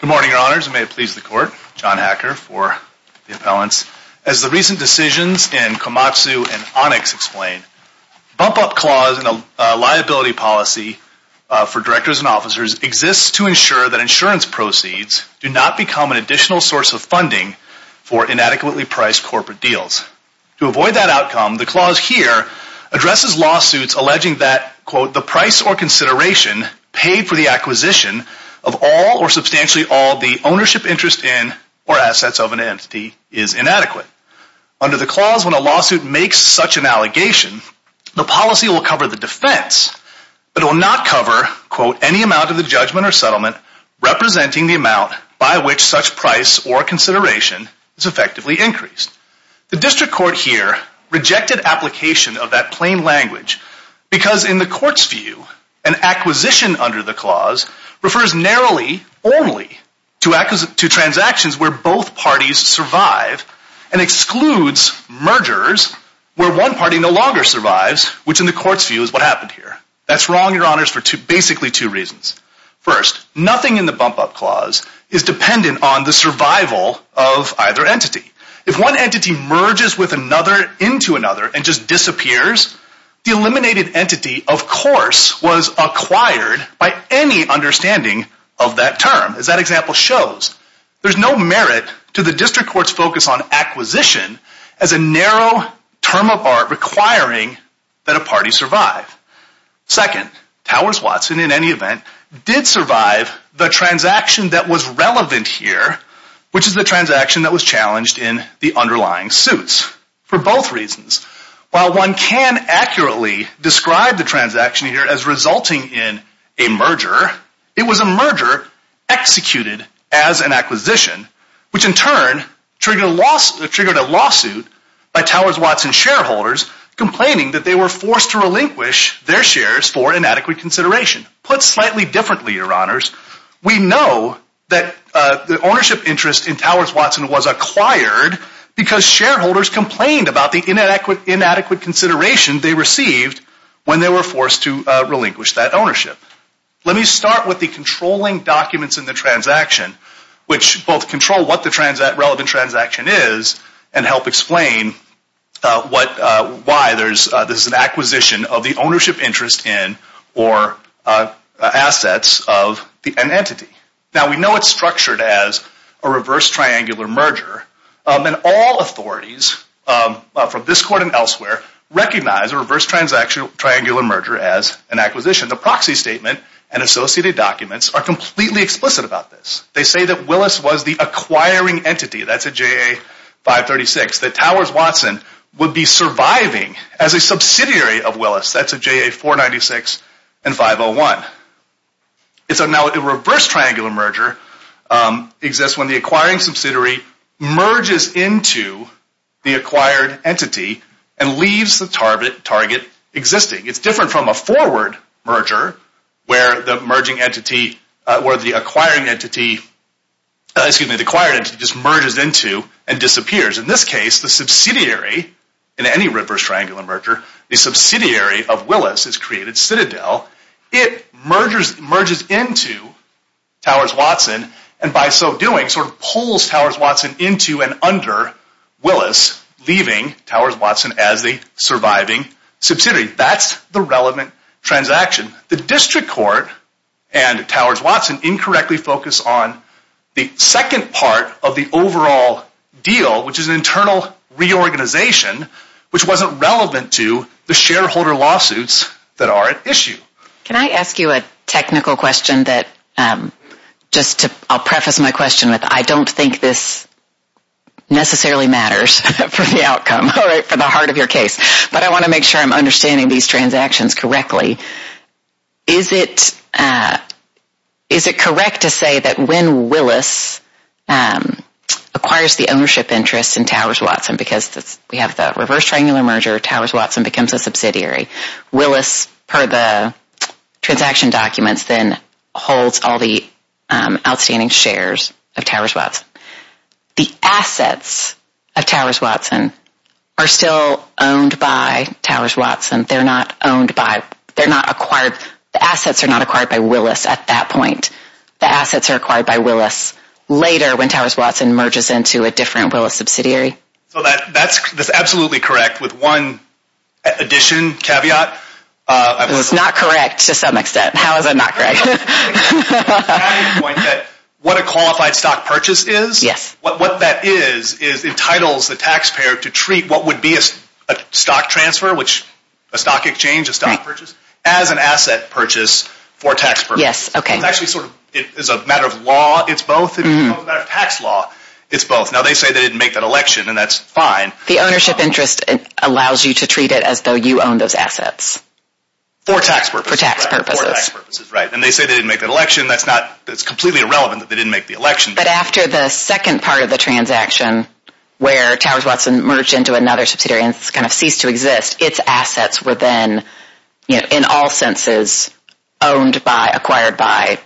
Good morning, Your Honors. May it please the Court. John Hacker for the appellants. As the recent decisions in Komatsu and Onyx explain, bump-up clause in a liability policy for directors and officers exists to ensure that insurance proceeds do not become an additional source of funding for inadequately priced corporate deals. To avoid that outcome, the clause here addresses lawsuits alleging that, quote, the price or substantially all the ownership interest in or assets of an entity is inadequate. Under the clause, when a lawsuit makes such an allegation, the policy will cover the defense, but it will not cover, quote, any amount of the judgment or settlement representing the amount by which such price or consideration is effectively increased. The District Court here rejected application of that plain language because in the Court's view, an acquisition under the clause refers narrowly only to transactions where both parties survive and excludes mergers where one party no longer survives, which in the Court's view is what happened here. That's wrong, Your Honors, for basically two reasons. First, nothing in the bump-up clause is dependent on the survival of either entity. If one entity merges with another into another and just disappears, the eliminated entity, of course, was acquired by any understanding of that term, as that example shows. There's no merit to the District Court's focus on acquisition as a narrow term of art requiring that a party survive. Second, Towers-Watson, in any event, did survive the transaction that was relevant here, which is the transaction that was challenged in the underlying suits, for both reasons. While one can accurately describe the transaction here as resulting in a merger, it was a merger executed as an acquisition, which in turn triggered a lawsuit by Towers-Watson shareholders complaining that they were forced to relinquish their shares for inadequate consideration. Put slightly differently, Your Honors, we know that the ownership interest in Towers-Watson was acquired because shareholders complained about the inadequate consideration they received when they were forced to relinquish that ownership. Let me start with the controlling documents in the transaction, which both control what the relevant transaction is and help explain why there's an acquisition of the ownership property. We know it's structured as a reverse-triangular merger, and all authorities, from this Court and elsewhere, recognize a reverse-triangular merger as an acquisition. The proxy statement and associated documents are completely explicit about this. They say that Willis was the acquiring entity, that's a JA-536, that Towers-Watson would be surviving as a subsidiary of Willis, that's a JA-496 and 501. So now a reverse-triangular merger exists when the acquiring subsidiary merges into the acquired entity and leaves the target existing. It's different from a forward merger, where the acquired entity just merges into and disappears. In this case, the subsidiary, in any reverse-triangular merger, the subsidiary of Willis has created Citadel. It merges into Towers-Watson, and by so doing, sort of pulls Towers-Watson into and under Willis, leaving Towers-Watson as the surviving subsidiary. That's the relevant transaction. The District Court and Towers-Watson incorrectly focus on the second part of the overall deal, which is an internal reorganization, which wasn't relevant to the shareholder lawsuits that are at issue. Can I ask you a technical question that, just to, I'll preface my question with, I don't think this necessarily matters for the outcome, for the heart of your case, but I want to make sure I'm understanding these transactions correctly. Is it, is it correct to say that when Willis acquires the ownership interest in Towers-Watson, because we have the reverse-triangular merger, Towers-Watson becomes a subsidiary, Willis, per the transaction documents, then holds all the outstanding shares of Towers-Watson. The assets of Towers-Watson are still owned by Towers-Watson. They're not owned by, they're not acquired, the assets are not acquired by Willis at that point. The assets are acquired by Willis later when Towers-Watson merges into a different Willis subsidiary. So that's, that's absolutely correct with one addition, caveat. It's not correct to some extent, how is it not correct? What a qualified stock purchase is, what that is, is entitles the taxpayer to treat what would be a stock transfer, which, a stock exchange, a stock purchase, as an asset purchase for a taxpayer. Yes, okay. It's actually sort of, it's a matter of law, it's both, it's a matter of tax law, it's both. Now they say they didn't make that election, and that's fine. The ownership interest allows you to treat it as though you own those assets. For tax purposes. For tax purposes. For tax purposes, right. And they say they didn't make that election, that's not, it's completely irrelevant that they didn't make the election. But after the second part of the transaction, where Towers-Watson merged into another subsidiary and kind of ceased to exist, its assets were then, you know, in all senses, owned by, acquired by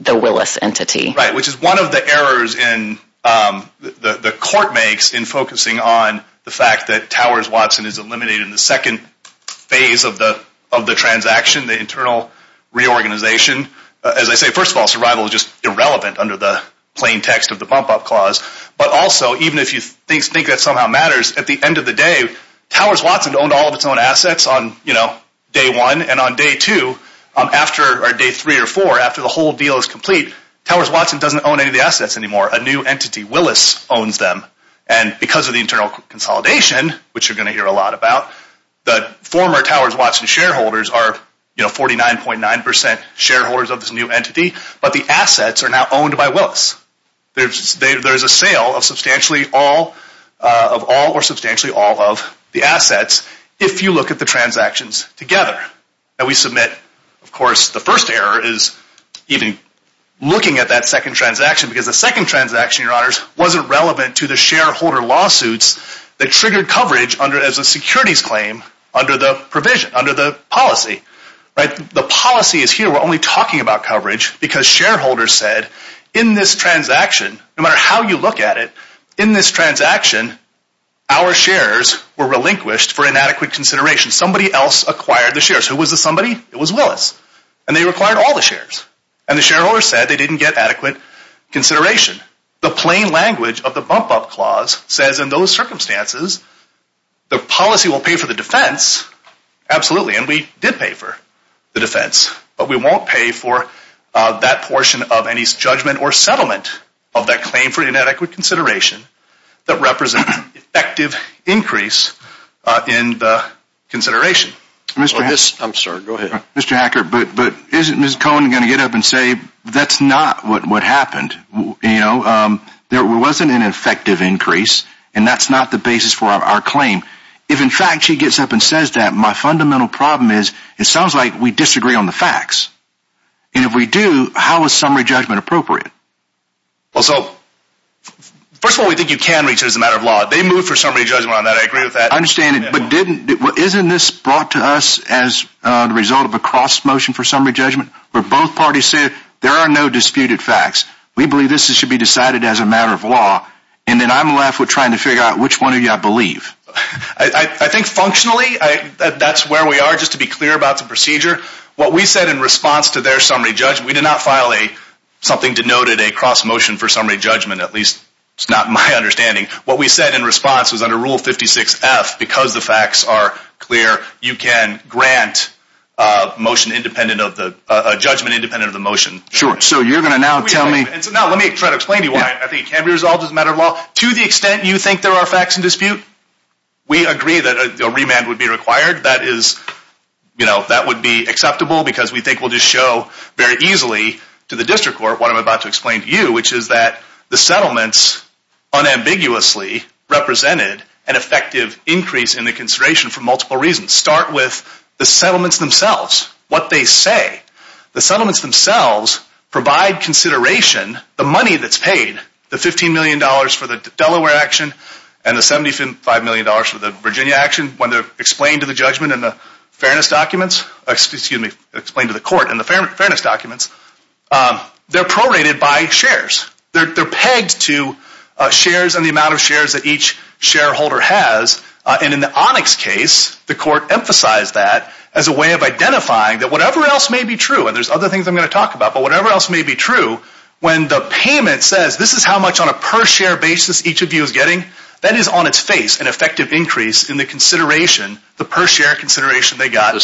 the Willis entity. Right, which is one of the errors in, the court makes in focusing on the fact that Towers-Watson is eliminated in the second phase of the transaction, the internal reorganization. As I say, first of all, survival is just irrelevant under the plain text of the bump up clause. But also, even if you think that somehow matters, at the end of the day, Towers-Watson owned all of its own assets on, you know, day one, and on day two, or day three or four, after the whole deal is complete, Towers-Watson doesn't own any of the assets anymore. A new entity, Willis, owns them. And because of the internal consolidation, which you're going to hear a lot about, the former Towers-Watson shareholders are, you know, 49.9% shareholders of this new entity. But the assets are now owned by Willis. There's a sale of substantially all, of all or substantially all of the assets, if you look at the transactions together. And we submit, of course, the first error is even looking at that second transaction because the second transaction, your honors, wasn't relevant to the shareholder lawsuits that triggered coverage under, as a securities claim, under the provision, under the policy. The policy is here, we're only talking about coverage because shareholders said, in this transaction, no matter how you look at it, in this transaction, our shares were relinquished for inadequate consideration. Somebody else acquired the shares. Who was this somebody? It was Willis. And they acquired all the shares. And the shareholders said they didn't get adequate consideration. The plain language of the bump-up clause says, in those circumstances, the policy will pay for the defense, absolutely, and we did pay for the defense. But we won't pay for that portion of any judgment or settlement of that claim for inadequate consideration that represents effective increase in the consideration. I'm sorry, go ahead. Mr. Hacker, but isn't Ms. Cohen going to get up and say, that's not what happened? There wasn't an effective increase, and that's not the basis for our claim. If, in fact, she gets up and says that, my fundamental problem is, it sounds like we disagree on the facts. And if we do, how is summary judgment appropriate? Well, so, first of all, we think you can reach it as a matter of law. They moved for summary judgment on that. I agree with that. I understand, but didn't, isn't this brought to us as a result of a cross-motion for summary judgment, where both parties said, there are no disputed facts. We believe this should be decided as a matter of law. And then I'm left with trying to figure out which one of you I believe. I think, functionally, that's where we are, just to be clear about the procedure. What we said in response to their summary judgment, we did not file a, something denoted a cross-motion for summary judgment, at least, it's not my understanding. What we said in response was under Rule 56-F, because the facts are clear, you can grant a motion independent of the, a judgment independent of the motion. Sure. So you're going to now tell me. No, let me try to explain to you why I think it can be resolved as a matter of law. To the extent you think there are facts in dispute, we agree that a remand would be required. That is, you know, that would be acceptable because we think we'll just show very easily to the district court what I'm about to explain to you, which is that the settlements unambiguously represented an effective increase in the consideration for multiple reasons. Start with the settlements themselves, what they say. The settlements themselves provide consideration, the money that's paid, the $15 million for the Delaware action and the $75 million for the Virginia action, when they're explained to the judgment in the fairness documents, excuse me, explained to the court in the fairness documents, they're prorated by shares. They're pegged to shares and the amount of shares that each shareholder has. And in the Onyx case, the court emphasized that as a way of identifying that whatever else may be true, and there's other things I'm going to talk about, but whatever else may be true, when the payment says this is how much on a per share basis each of you is getting, that is on its face an effective increase in the consideration, the per share consideration they got. The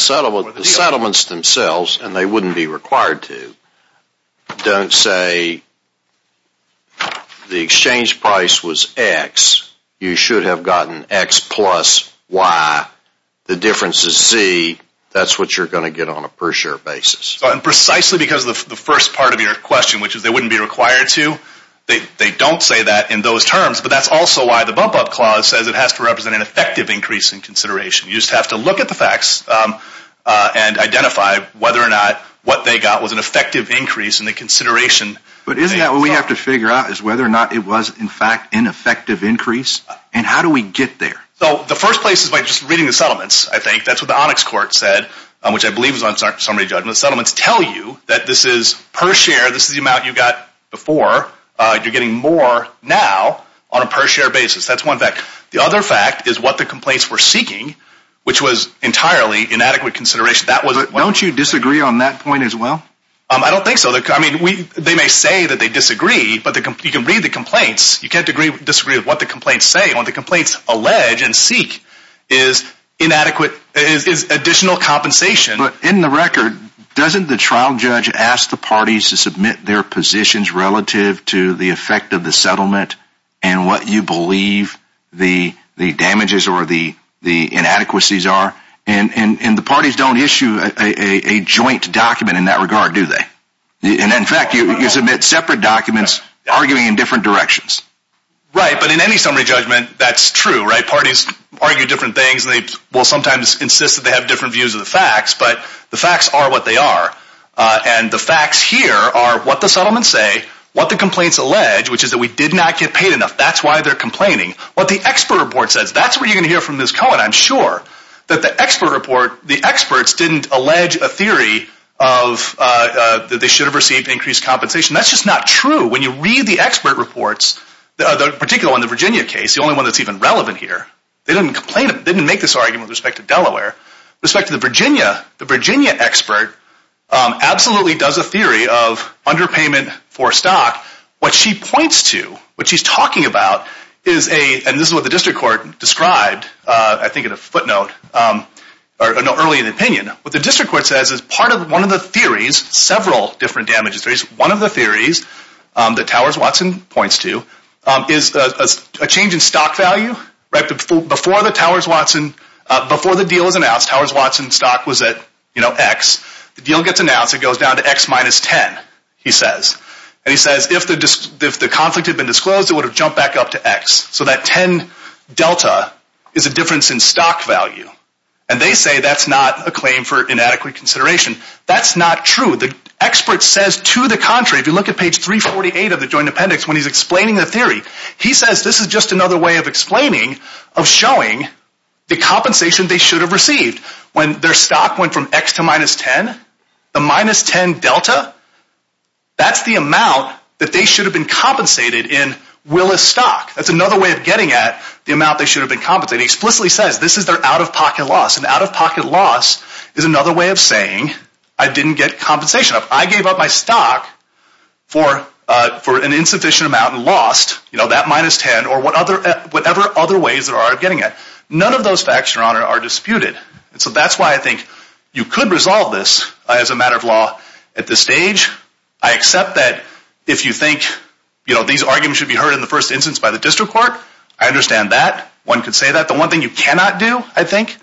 settlements themselves, and they wouldn't be required to, don't say the exchange price was X, you should have gotten X plus Y, the difference is Z, that's what you're going to get on a per share basis. Precisely because the first part of your question, which is they wouldn't be required to, they That's also why the bump up clause says it has to represent an effective increase in consideration. You just have to look at the facts and identify whether or not what they got was an effective increase in the consideration. But isn't that what we have to figure out is whether or not it was in fact an effective increase and how do we get there? So the first place is by just reading the settlements, I think. That's what the Onyx court said, which I believe is on summary judgment. Settlements tell you that this is per share, this is the amount you got before, you're getting more now on a per share basis. That's one fact. The other fact is what the complaints were seeking, which was entirely inadequate consideration. Don't you disagree on that point as well? I don't think so. I mean, they may say that they disagree, but you can read the complaints, you can't disagree with what the complaints say. What the complaints allege and seek is additional compensation. In the record, doesn't the trial judge ask the parties to submit their positions relative to the effect of the settlement and what you believe the damages or the inadequacies are? And the parties don't issue a joint document in that regard, do they? And in fact, you submit separate documents arguing in different directions. Right, but in any summary judgment, that's true, right? Parties argue different things and they will sometimes insist that they have different views of the facts, but the facts are what they are. And the facts here are what the settlements say, what the complaints allege, which is that we did not get paid enough. That's why they're complaining. What the expert report says, that's what you're going to hear from Ms. Cohen, I'm sure. That the expert report, the experts didn't allege a theory of that they should have received increased compensation. That's just not true. When you read the expert reports, particularly on the Virginia case, the only one that's even relevant here, they didn't make this argument with respect to Delaware. With respect to the Virginia, the Virginia expert absolutely does a theory of underpayment for stock. What she points to, what she's talking about is a, and this is what the district court described, I think in a footnote, or early in the opinion, what the district court says is part of one of the theories, several different damages theories, one of the theories that Towers Watson points to is a change in stock value, right, before the Towers Watson, before the deal was announced, Towers Watson stock was at X, the deal gets announced, it goes down to X minus 10, he says, and he says if the conflict had been disclosed, it would have jumped back up to X, so that 10 delta is a difference in stock value, and they say that's not a claim for inadequate consideration. That's not true. The expert says to the contrary, if you look at page 348 of the joint appendix, when he's explaining the theory, he says this is just another way of explaining, of showing the compensation they should have received, when their stock went from X to minus 10, the minus 10 delta, that's the amount that they should have been compensated in Willis stock, that's another way of getting at the amount they should have been compensated, he explicitly says this is their out-of-pocket loss, and out-of-pocket loss is another way of saying I didn't get compensation, if I gave up my stock for an insufficient amount and lost, you know, that minus 10, or whatever other ways there are of getting it, none of those facts, your honor, are disputed. So that's why I think you could resolve this as a matter of law at this stage. I accept that if you think, you know, these arguments should be heard in the first instance by the district court, I understand that, one could say that. The one thing you cannot do, I think,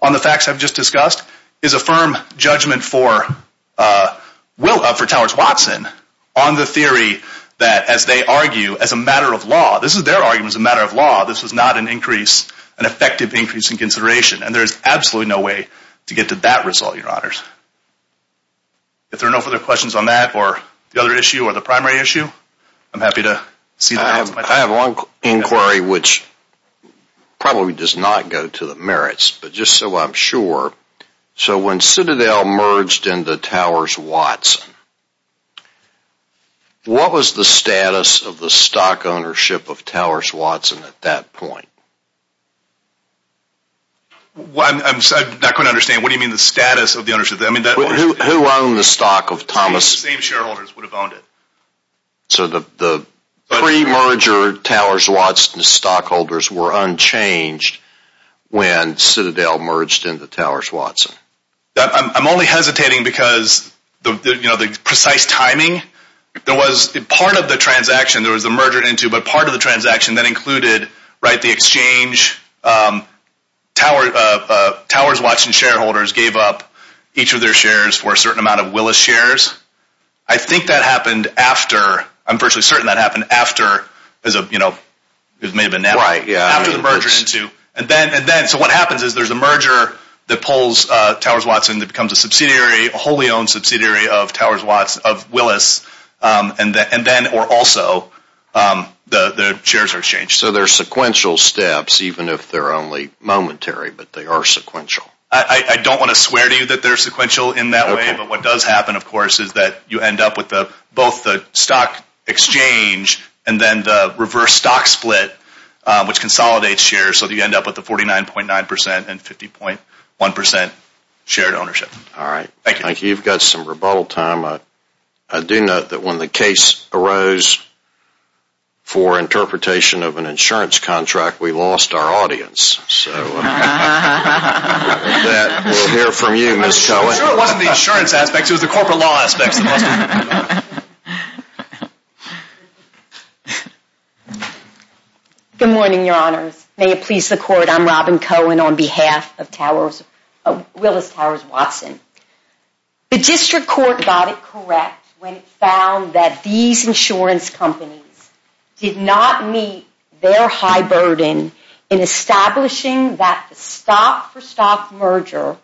on the facts I've just discussed, is affirm judgment for Towers-Watson on the theory that as they argue as a matter of law, this is their argument as a matter of law, this is not an increase, an effective increase in consideration, and there is absolutely no way to get to that result, your honors. If there are no further questions on that, or the other issue, or the primary issue, I'm happy to see that. I have one inquiry which probably does not go to the merits, but just so I'm sure. So when Citadel merged into Towers-Watson, what was the status of the stock ownership of Towers-Watson at that point? I'm not going to understand, what do you mean the status of the ownership? Who owned the stock of Thomas? The same shareholders would have owned it. So the pre-merger Towers-Watson stockholders were unchanged when Citadel merged into Towers-Watson? I'm only hesitating because, you know, the precise timing, there was part of the transaction there was a merger into, but part of the transaction that included, right, the exchange, Towers-Watson shareholders gave up each of their shares for a certain amount of Willis shares. I think that happened after, I'm virtually certain that happened after, it may have been now, after the merger into, and then, and then, so what happens is there's a merger that pulls Towers-Watson that becomes a subsidiary, wholly owned subsidiary of Towers-Watson, of Willis, and then, or also, the shares are exchanged. So they're sequential steps, even if they're only momentary, but they are sequential. I don't want to swear to you that they're sequential in that way, but what does happen, of course, is that you end up with both the stock exchange and then the reverse stock split, which consolidates shares, so that you end up with the 49.9% and 50.1% shared ownership. All right, thank you. You've got some rebuttal time. I do note that when the case arose for interpretation of an insurance contract, we lost our audience. So with that, we'll hear from you, Ms. Cohen. I'm sure it wasn't the insurance aspects, it was the corporate law aspects. Good morning, Your Honors. May it please the Court, I'm Robin Cohen on behalf of Willis Towers-Watson. The District Court got it correct when it found that these insurance companies did not meet their high burden in establishing that the stop-for-stock merger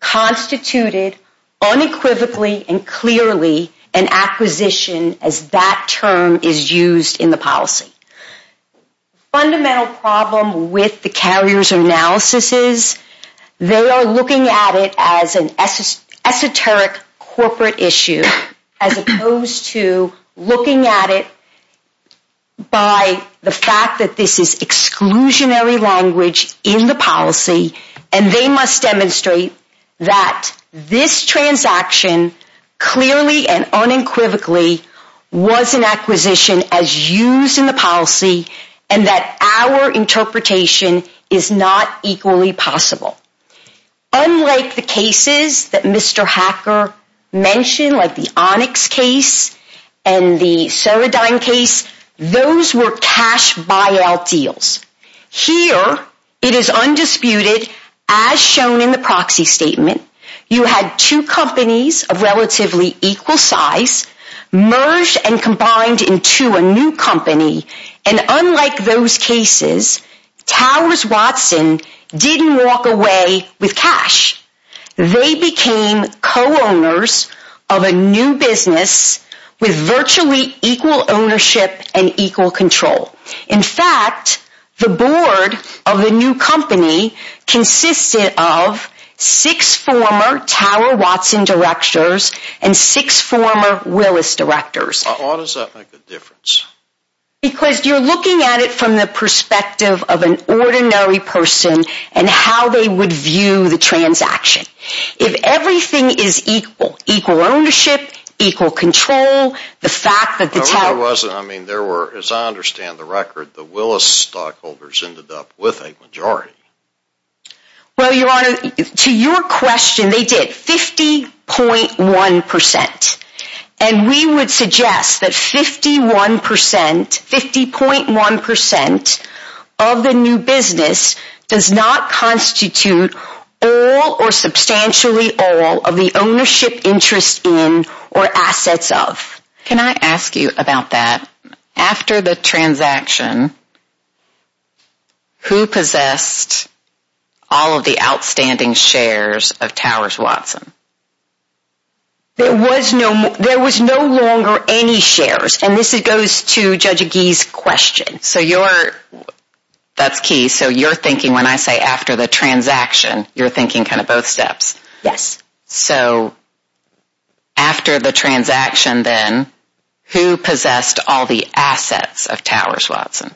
constituted unequivocally and clearly an acquisition as that term is used in the policy. Fundamental problem with the carrier's analysis is they are looking at it as an esoteric corporate issue, as opposed to looking at it by the fact that this is exclusionary language in the policy, and they must demonstrate that this transaction clearly and unequivocally was an acquisition as used in the policy, and that our interpretation is not equally possible. Unlike the cases that Mr. Hacker mentioned, like the Onyx case and the Ceradyne case, those were cash buyout deals. Here, it is undisputed, as shown in the proxy statement, you had two companies of relatively equal size, merged and combined into a new company, and unlike those cases, Towers-Watson didn't walk away with cash. They became co-owners of a new business with virtually equal ownership and equal control. In fact, the board of the new company consisted of six former Tower-Watson directors and six former Willis directors. Why does that make a difference? Because you're looking at it from the perspective of an ordinary person and how they would view the transaction. If everything is equal, equal ownership, equal control, the fact that the Tower... It wasn't, I mean, there were, as I understand the record, the Willis stockholders ended up with a majority. Well, Your Honor, to your question, they did, 50.1%. And we would suggest that 51%, 50.1% of the new business does not constitute all or substantially all of the ownership interest in or assets of. Can I ask you about that? After the transaction, who possessed all of the outstanding shares of Towers-Watson? There was no longer any shares, and this goes to Judge Agee's question. So you're, that's key. So you're thinking, when I say after the transaction, you're thinking kind of both steps. Yes. So after the transaction then, who possessed all the assets of Towers-Watson?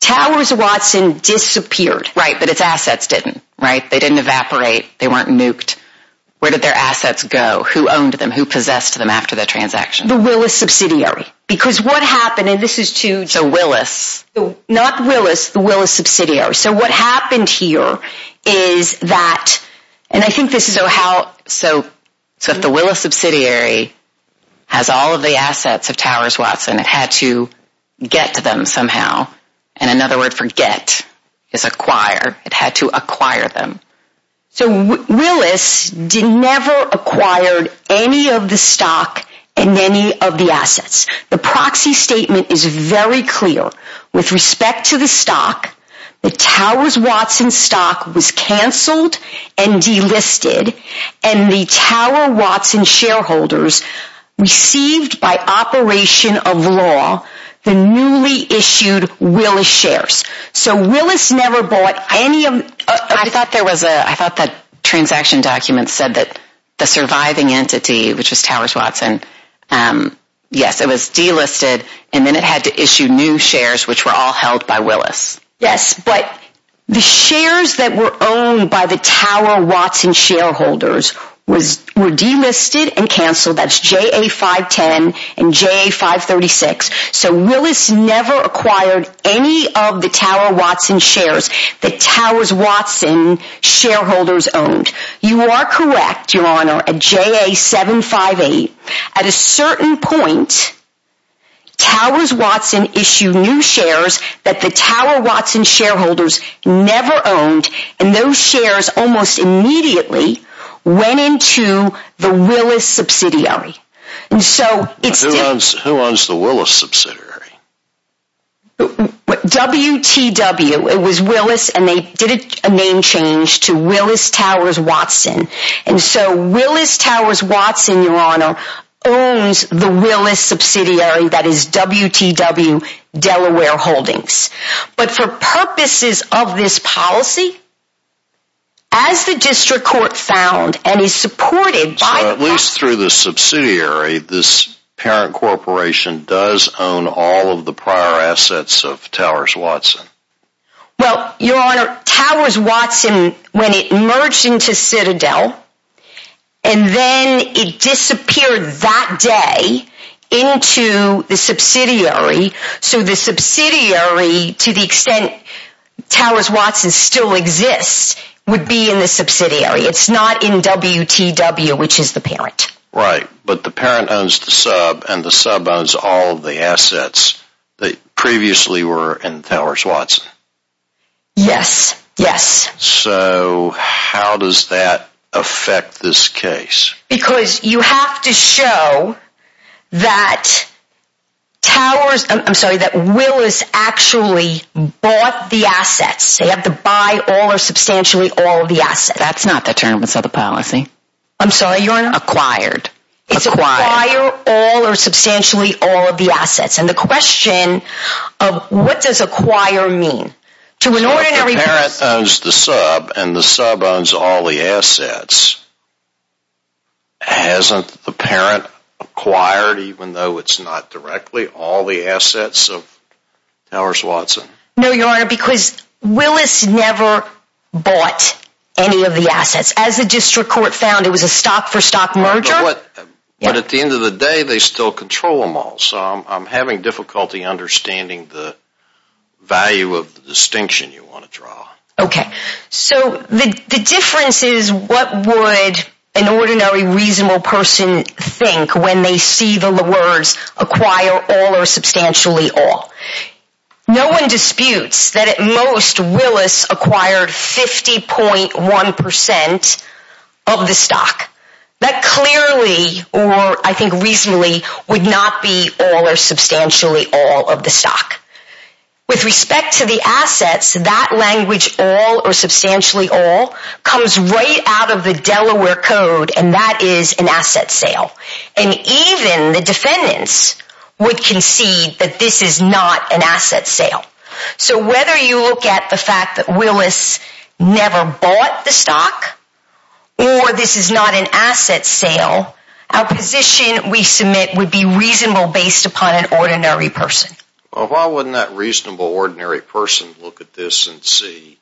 Towers-Watson disappeared. Right, but its assets didn't, right? They didn't evaporate. They weren't nuked. Where did their assets go? Who owned them? Who possessed them after the transaction? The Willis subsidiary. Because what happened, and this is to... So Willis. Not Willis, the Willis subsidiary. So what happened here is that, and I think this is how... So the Willis subsidiary has all of the assets of Towers-Watson. It had to get to them somehow. And another word for get is acquire. It had to acquire them. So Willis never acquired any of the stock and any of the assets. The proxy statement is very clear. With respect to the stock, the Towers-Watson stock was canceled and delisted. And the Tower-Watson shareholders received by operation of law the newly issued Willis shares. So Willis never bought any of... I thought there was a... I thought that transaction document said that the surviving entity, which was Towers-Watson... Yes, it was delisted. And then it had to issue new shares, which were all held by Willis. Yes, but the shares that were owned by the Tower-Watson shareholders were delisted and canceled. That's JA-510 and JA-536. So Willis never acquired any of the Tower-Watson shares that Towers-Watson shareholders owned. You are correct, Your Honor, at JA-758. At a certain point, Towers-Watson issued new shares that the Tower-Watson shareholders never owned. And those shares almost immediately went into the Willis subsidiary. Who owns the Willis subsidiary? WTW. It was Willis and they did a name change to Willis-Towers-Watson. And so Willis-Towers-Watson, Your Honor, owns the Willis subsidiary that is WTW-Delaware Holdings. But for purposes of this policy, as the District Court found and is supported by... So at least through the subsidiary, this parent corporation does own all of the prior assets of Towers-Watson. Well, Your Honor, Towers-Watson, when it merged into Citadel, and then it disappeared that day into the subsidiary, so the subsidiary, to the extent Towers-Watson still exists, would be in the subsidiary. It's not in WTW, which is the parent. Right. But the parent owns the sub and the sub owns all of the assets that previously were in Towers-Watson. Yes. Yes. So how does that affect this case? Because you have to show that Towers... I'm sorry, that Willis actually bought the assets. They have to buy all or substantially all of the assets. That's not the term of the policy. I'm sorry, Your Honor? Acquired. Acquired. It's acquire all or substantially all of the assets. And the question of what does acquire mean? So if the parent owns the sub and the sub owns all the assets, hasn't the parent acquired, even though it's not directly, all the assets of Towers-Watson? No, Your Honor, because Willis never bought any of the assets. As the district court found, it was a stock-for-stock merger. But at the end of the day, they still control them all. So I'm having difficulty understanding the value of the distinction you want to draw. Okay. So the difference is what would an ordinary, reasonable person think when they see the words acquire all or substantially all? No one disputes that at most, Willis acquired 50.1% of the stock. That clearly, or I think reasonably, would not be all or substantially all of the stock. With respect to the assets, that language, all or substantially all, comes right out of the Delaware Code, and that is an asset sale. And even the defendants would concede that this is not an asset sale. So whether you look at the fact that Willis never bought the stock, or this is not an asset sale, our position we submit would be reasonable based upon an ordinary person. Well, why wouldn't that reasonable, ordinary person look at this and see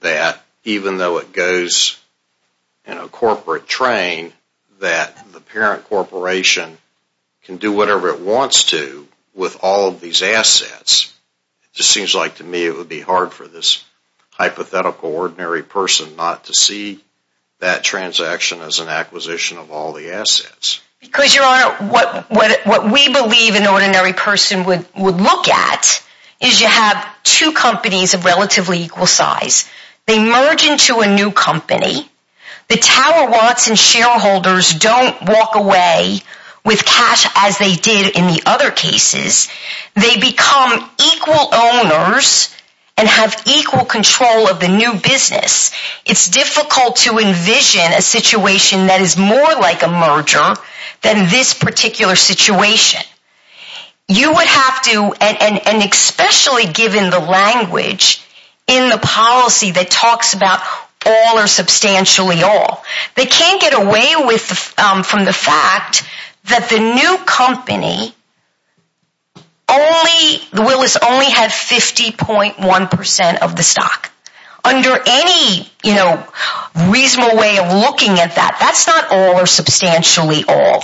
that even though it goes in a corporate train, that the parent corporation can do whatever it wants to with all of these assets? It just seems like to me it would be hard for this hypothetical, ordinary person not to see that transaction as an acquisition of all the assets. Because, Your Honor, what we believe an ordinary person would look at is you have two companies of relatively equal size. They merge into a new company. The tower wants and shareholders don't walk away with cash as they did in the other cases. They become equal owners and have equal control of the new business. It's difficult to envision a situation that is more like a merger than this particular situation. You would have to, and especially given the language in the policy that talks about all or substantially all, they can't get away from the fact that the new company, the Willis only had 50.1% of the stock. Under any reasonable way of looking at that, that's not all or substantially all.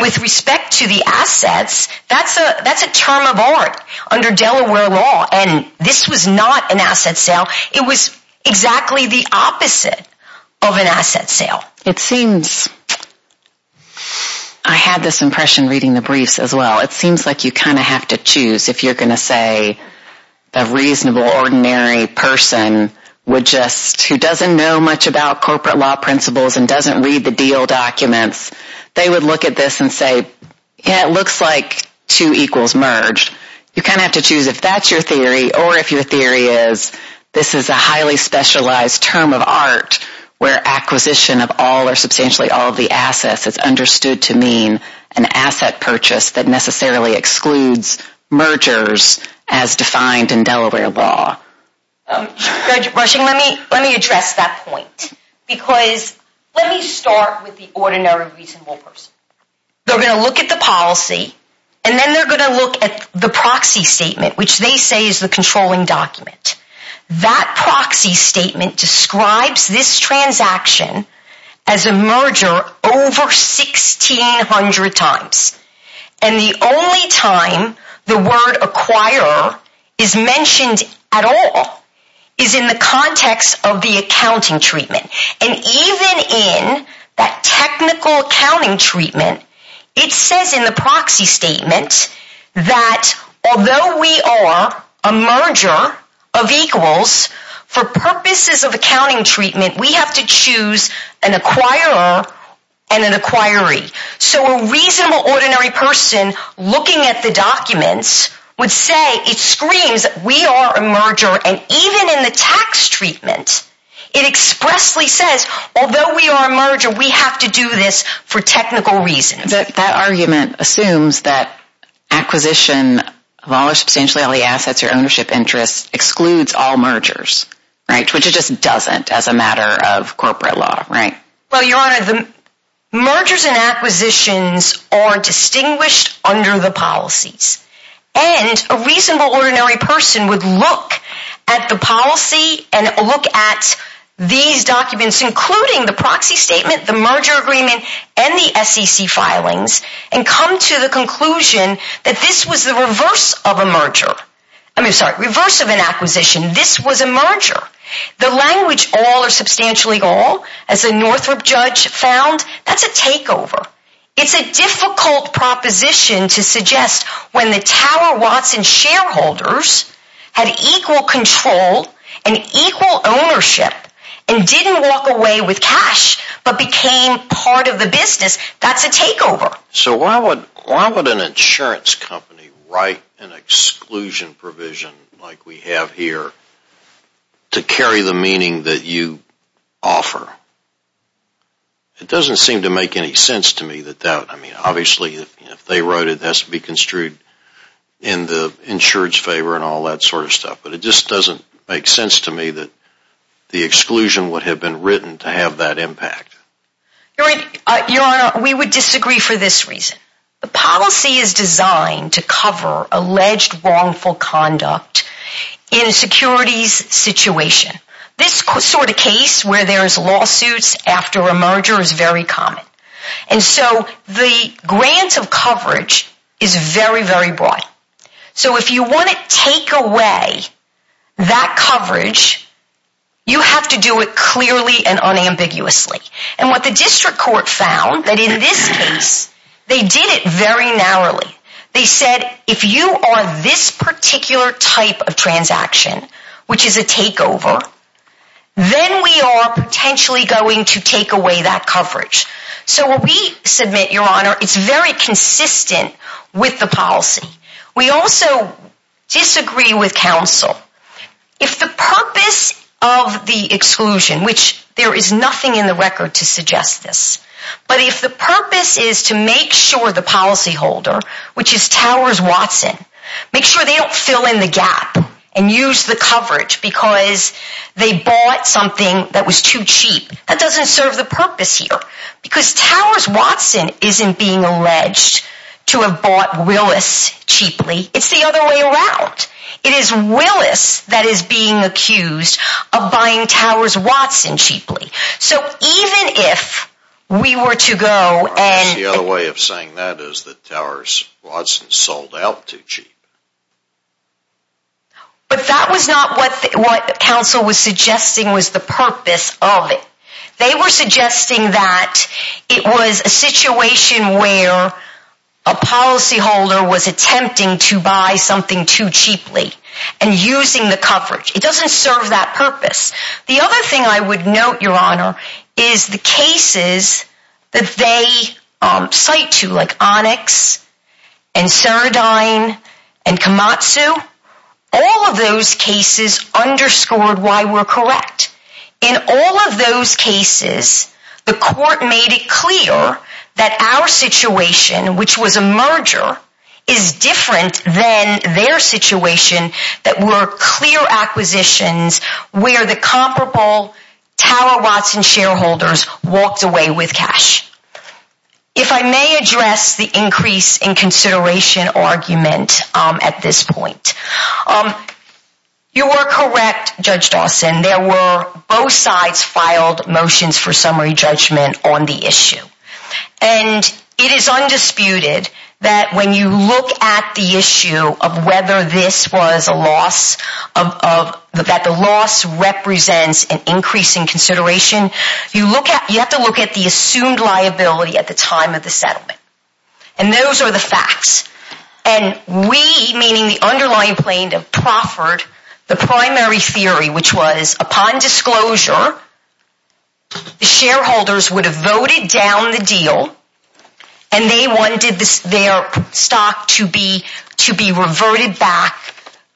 With respect to the assets, that's a term of art under Delaware law. This was not an asset sale. It was exactly the opposite of an asset sale. It seems, I had this impression reading the briefs as well, it seems like you kind of have to choose if you're going to say a reasonable, ordinary person who doesn't know much about corporate law principles and doesn't read the deal documents, they would look at this and say, yeah, it looks like two equals merged. You kind of have to choose if that's your theory or if your theory is this is a highly specialized term of art where acquisition of all or substantially all of the assets is understood to mean an asset purchase that necessarily excludes mergers as defined in Delaware law. Rushing, let me address that point because let me start with the ordinary reasonable person. They're going to look at the policy and then they're going to look at the proxy statement, which they say is the controlling document. That proxy statement describes this transaction as a merger over 1,600 times. The only time the word acquirer is mentioned at all is in the context of the accounting treatment. Even in that technical accounting treatment, it says in the proxy statement that although we are a merger of equals, for purposes of accounting treatment, we have to choose an acquirer and an acquiree. So a reasonable ordinary person looking at the documents would say it screams we are a merger. Even in the tax treatment, it expressly says although we are a merger, we have to do this for technical reasons. That argument assumes that acquisition of all or substantially all the assets or ownership interests excludes all mergers, which it just doesn't as a matter of corporate law, right? Well, Your Honor, the mergers and acquisitions are distinguished under the policies. And a reasonable ordinary person would look at the policy and look at these documents, including the proxy statement, the merger agreement, and the SEC filings, and come to the conclusion that this was the reverse of a merger. This was a merger. The language all or substantially all, as a Northrop judge found, that's a takeover. It's a difficult proposition to suggest when the Tower Watson shareholders had equal control and equal ownership and didn't walk away with cash but became part of the business. That's a takeover. So why would an insurance company write an exclusion provision like we have here to carry the meaning that you offer? It doesn't seem to make any sense to me that that, I mean, obviously if they wrote it, that's to be construed in the insurer's favor and all that sort of stuff. But it just doesn't make sense to me that the exclusion would have been written to have that impact. Your Honor, we would disagree for this reason. The policy is designed to cover alleged wrongful conduct in a securities situation. This sort of case where there's lawsuits after a merger is very common. And so the grant of coverage is very, very broad. So if you want to take away that coverage, you have to do it clearly and unambiguously. And what the district court found, that in this case, they did it very narrowly. They said, if you are this particular type of transaction, which is a takeover, then we are potentially going to take away that coverage. So when we submit, Your Honor, it's very consistent with the policy. We also disagree with counsel. If the purpose of the exclusion, which there is nothing in the record to suggest this, but if the purpose is to make sure the policyholder, which is Towers Watson, make sure they don't fill in the gap and use the coverage because they bought something that was too cheap, that doesn't serve the purpose here. Because Towers Watson isn't being alleged to have bought Willis cheaply. It's the other way around. It is Willis that is being accused of buying Towers Watson cheaply. So even if we were to go and... The other way of saying that is that Towers Watson sold out too cheap. But that was not what counsel was suggesting was the purpose of it. They were suggesting that it was a situation where a policyholder was attempting to buy something too cheaply and using the coverage. It doesn't serve that purpose. The other thing I would note, Your Honor, is the cases that they cite to, like Onyx, and Ceradyne, and Komatsu. All of those cases underscored why we're correct. In all of those cases, the court made it clear that our situation, which was a merger, is different than their situation that were clear acquisitions where the comparable Tower Watson shareholders walked away with cash. If I may address the increase in consideration argument at this point. You are correct, Judge Dawson. Both sides filed motions for summary judgment on the issue. It is undisputed that when you look at the issue of whether this was a loss that the loss represents an increase in consideration, you have to look at the assumed liability at the time of the settlement. And those are the facts. And we, meaning the underlying plaintiff, proffered the primary theory, which was upon disclosure, the shareholders would have voted down the deal and they wanted their stock to be reverted back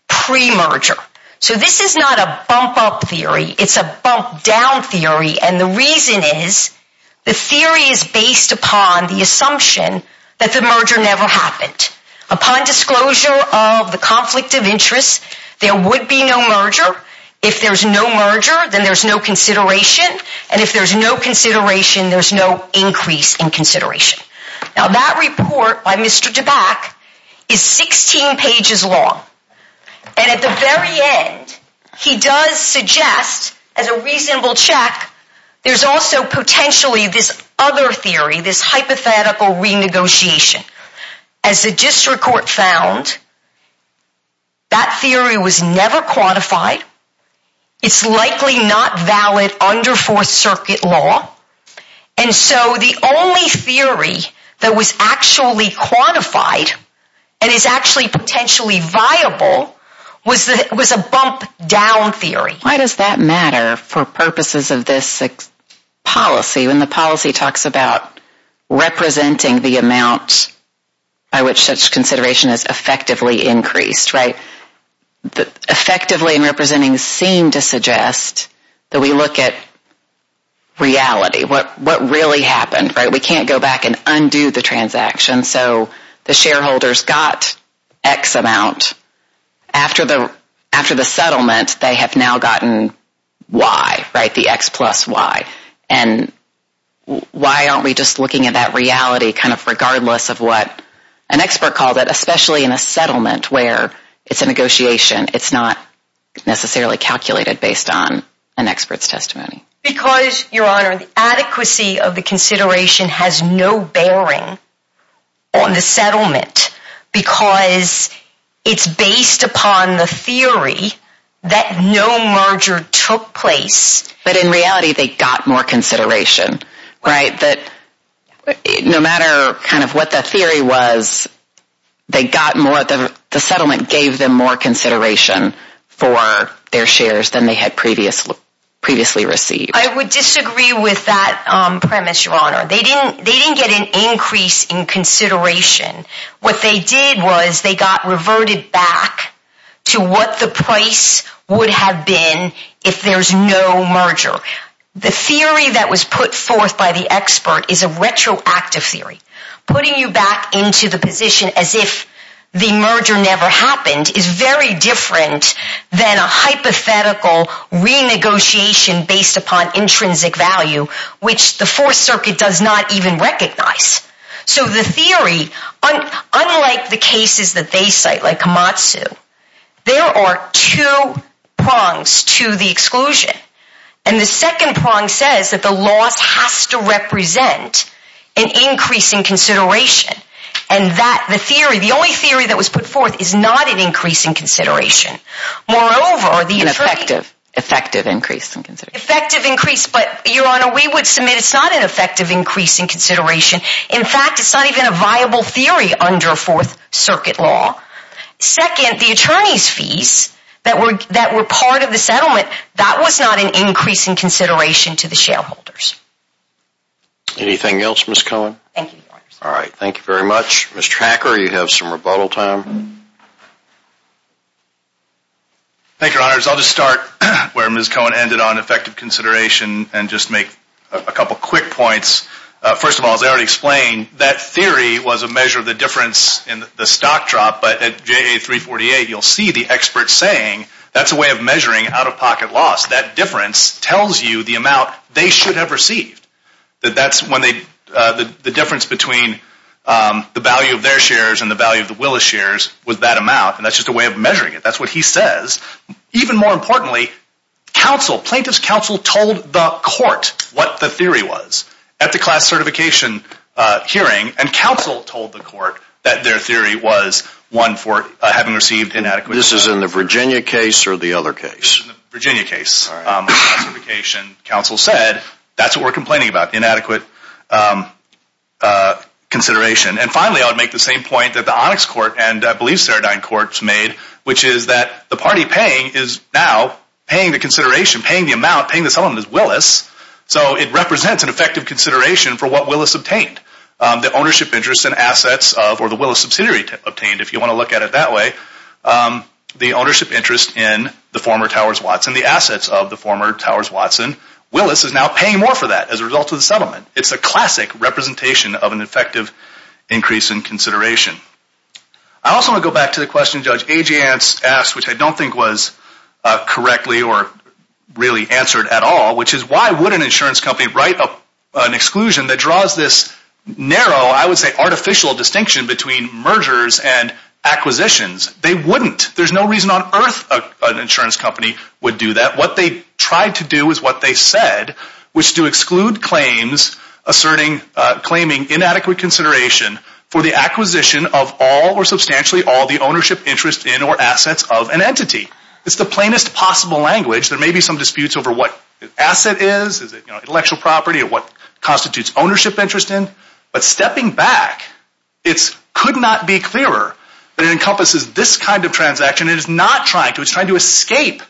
pre-merger. So this is not a bump-up theory. It's a bump-down theory. And the reason is, the theory is based upon the assumption that the merger never happened. Upon disclosure of the conflict of interest, there would be no merger. If there's no merger, then there's no consideration. And if there's no consideration, there's no increase in consideration. Now that report by Mr. DeBack is 16 pages long. And at the very end, he does suggest, as a reasonable check, there's also potentially this other theory, this hypothetical renegotiation. As the district court found, that theory was never quantified. It's likely not valid under Fourth Circuit law. And so the only theory that was actually quantified, and is actually potentially viable, was a bump-down theory. Why does that matter for purposes of this policy, when the policy talks about representing the amount by which such consideration is effectively increased? Effectively in representing seemed to suggest that we look at reality. What really happened? We can't go back and undo the transaction, so the shareholders got X amount after the settlement, they have now gotten Y, the X plus Y. And why aren't we just looking at that reality regardless of what an expert called it, especially in a settlement where it's a negotiation. It's not necessarily calculated based on an expert's testimony. Because, Your Honor, the adequacy of the consideration has no bearing on the settlement because it's based upon the theory that no merger took place. But in reality, they got more consideration, right? No matter what the theory was, the settlement gave them more consideration for their shares than they had previously received. I would disagree with that premise, Your Honor. They didn't get an increase in consideration. What they did was they got reverted back to what the price would have been if there's no merger. The theory that was put forth by the expert is a retroactive theory. Putting you back into the position as if the merger never happened is very different than a hypothetical renegotiation based upon intrinsic value, which the Fourth Circuit does not even recognize. So the theory unlike the cases that they cite, like Amatsu, there are two prongs to the exclusion. And the second prong says that the loss has to represent an increase in consideration. And that, the theory, the only theory that was put forth is not an increase in consideration. Moreover, An effective increase in consideration. But, Your Honor, we would submit it's not an effective increase in consideration. In fact, it's not even a viable theory under Fourth Circuit law. Second, the attorney's fees that were part of the settlement, that was not an increase in consideration to the shareholders. Anything else, Ms. Cohen? Thank you, Your Honor. Thank you very much. Ms. Tracker, you have some rebuttal time. Thank you, Your Honor. I'll just start where Ms. Cohen ended on effective consideration and just make a couple quick points. First of all, as I already explained, that theory was a measure of the difference in the stock drop. But at JA 348, you'll see the expert saying that's a way of measuring out-of-pocket loss. That difference tells you the amount they should have received. That's when they, the difference between the value of their shares and the value of the Willis shares was that amount. And that's just a way of measuring it. That's what he says. Even more importantly, counsel, plaintiff's counsel told the court what the theory was at the class certification hearing. And counsel told the court that their theory was one for having received inadequate consideration. This is in the Virginia case or the other case? This is in the Virginia case. Classification, counsel said, that's what we're complaining about. Inadequate consideration. And finally, I would make the same point that the Onyx Court and I believe Ceredine Court made, which is that the party paying is now paying the consideration, paying the amount, not paying the settlement as Willis, so it represents an effective consideration for what Willis obtained. The ownership interest and assets of, or the Willis subsidiary obtained, if you want to look at it that way, the ownership interest in the former Towers Watson, the assets of the former Towers Watson. Willis is now paying more for that as a result of the settlement. It's a classic representation of an effective increase in consideration. I also want to go back to the question Judge Agyants asked, which I don't think was correctly or really answered at all, which is why would an insurance company write an exclusion that draws this narrow, I would say artificial distinction between mergers and acquisitions? They wouldn't. There's no reason on earth an insurance company would do that. What they tried to do is what they said, which is to exclude claims asserting, claiming inadequate consideration for the acquisition of all or substantially all the ownership interest in or assets of an entity. It's the plainest possible language. There may be some disputes over what asset is, is it intellectual property, or what constitutes ownership interest in, but stepping back it could not be clearer that it encompasses this kind of transaction. It is not trying to. It's trying to escape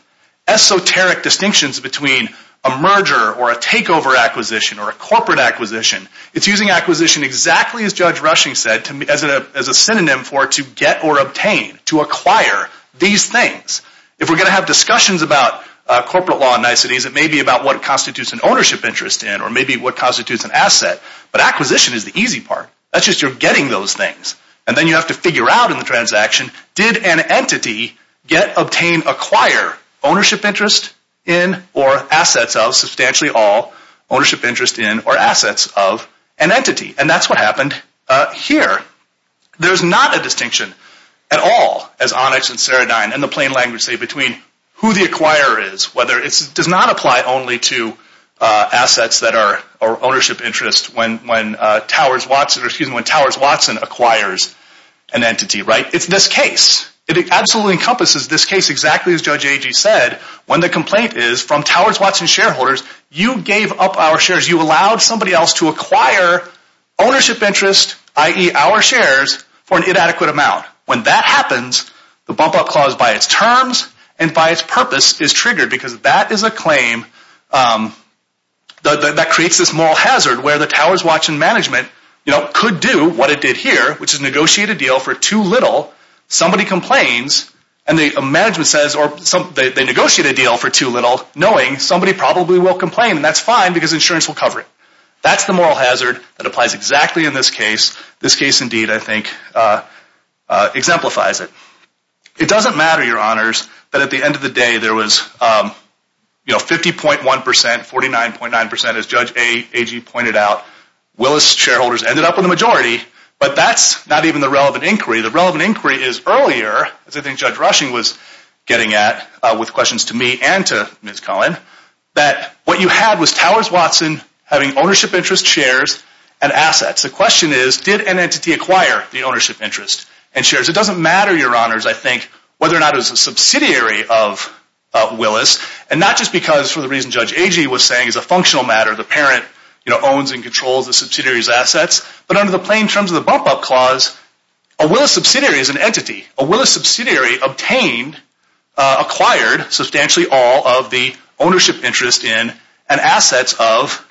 esoteric distinctions between a merger or a takeover acquisition or a corporate acquisition. It's using acquisition exactly as a synonym for to get or obtain, to acquire these things. If we're going to have discussions about corporate law and niceties, it may be about what constitutes an ownership interest in or maybe what constitutes an asset, but acquisition is the easy part. That's just you're getting those things. And then you have to figure out in the transaction, did an entity get, obtain, acquire ownership interest in or assets of substantially all ownership interest in or assets of an entity. And that's what happened here. There's not a distinction at all as Onyx and Ceradyne and the plain language say between who the acquirer is, whether it does not apply only to assets that are ownership interest when Towers Watson acquires an entity, right? It's this case. It absolutely encompasses this case exactly as Judge Agee said when the complaint is from Towers Watson shareholders, you gave up our shares, you allowed somebody else to acquire ownership interest, i.e. our shares for an inadequate amount. When that happens, the bump up clause by its terms and by its purpose is triggered because that is a claim that creates this moral hazard where the Towers Watson management could do what it did here which is negotiate a deal for too little. Somebody complains and the management says or they negotiate a deal for too little knowing somebody probably will complain and that's fine because insurance will cover it. That's the moral hazard that applies exactly in this case. This case indeed, I think, exemplifies it. It doesn't matter, your honors, that at the end of the day there was 50.1%, 49.9% as Judge Agee pointed out. Willis shareholders ended up in the majority but that's not even the relevant inquiry. The relevant inquiry is getting at, with questions to me and to Ms. Cullen, that what you had was Towers Watson having ownership interest shares and assets. The question is did an entity acquire the ownership interest and shares? It doesn't matter, your honors, I think, whether or not it was a subsidiary of Willis and not just because for the reason Judge Agee was saying is a functional matter. The parent owns and controls the subsidiary's assets but under the plain terms of the bump up clause, a Willis subsidiary acquired substantially all of the ownership interest in and assets of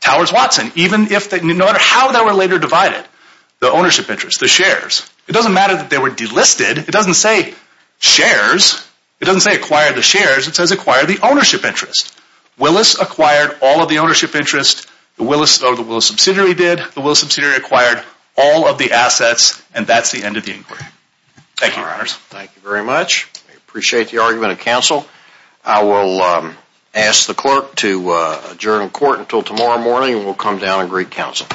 Towers Watson. No matter how they were later divided, the ownership interest, the shares, it doesn't matter that they were delisted. It doesn't say shares. It doesn't say acquire the shares. It says acquire the ownership interest. Willis acquired all of the ownership interest. The Willis subsidiary did. The Willis subsidiary acquired all of the assets and that's the end of the inquiry. Thank you, your honors. Thank you very much. I appreciate the argument of counsel. I will ask the clerk to adjourn court until tomorrow morning and we'll come down and greet counsel.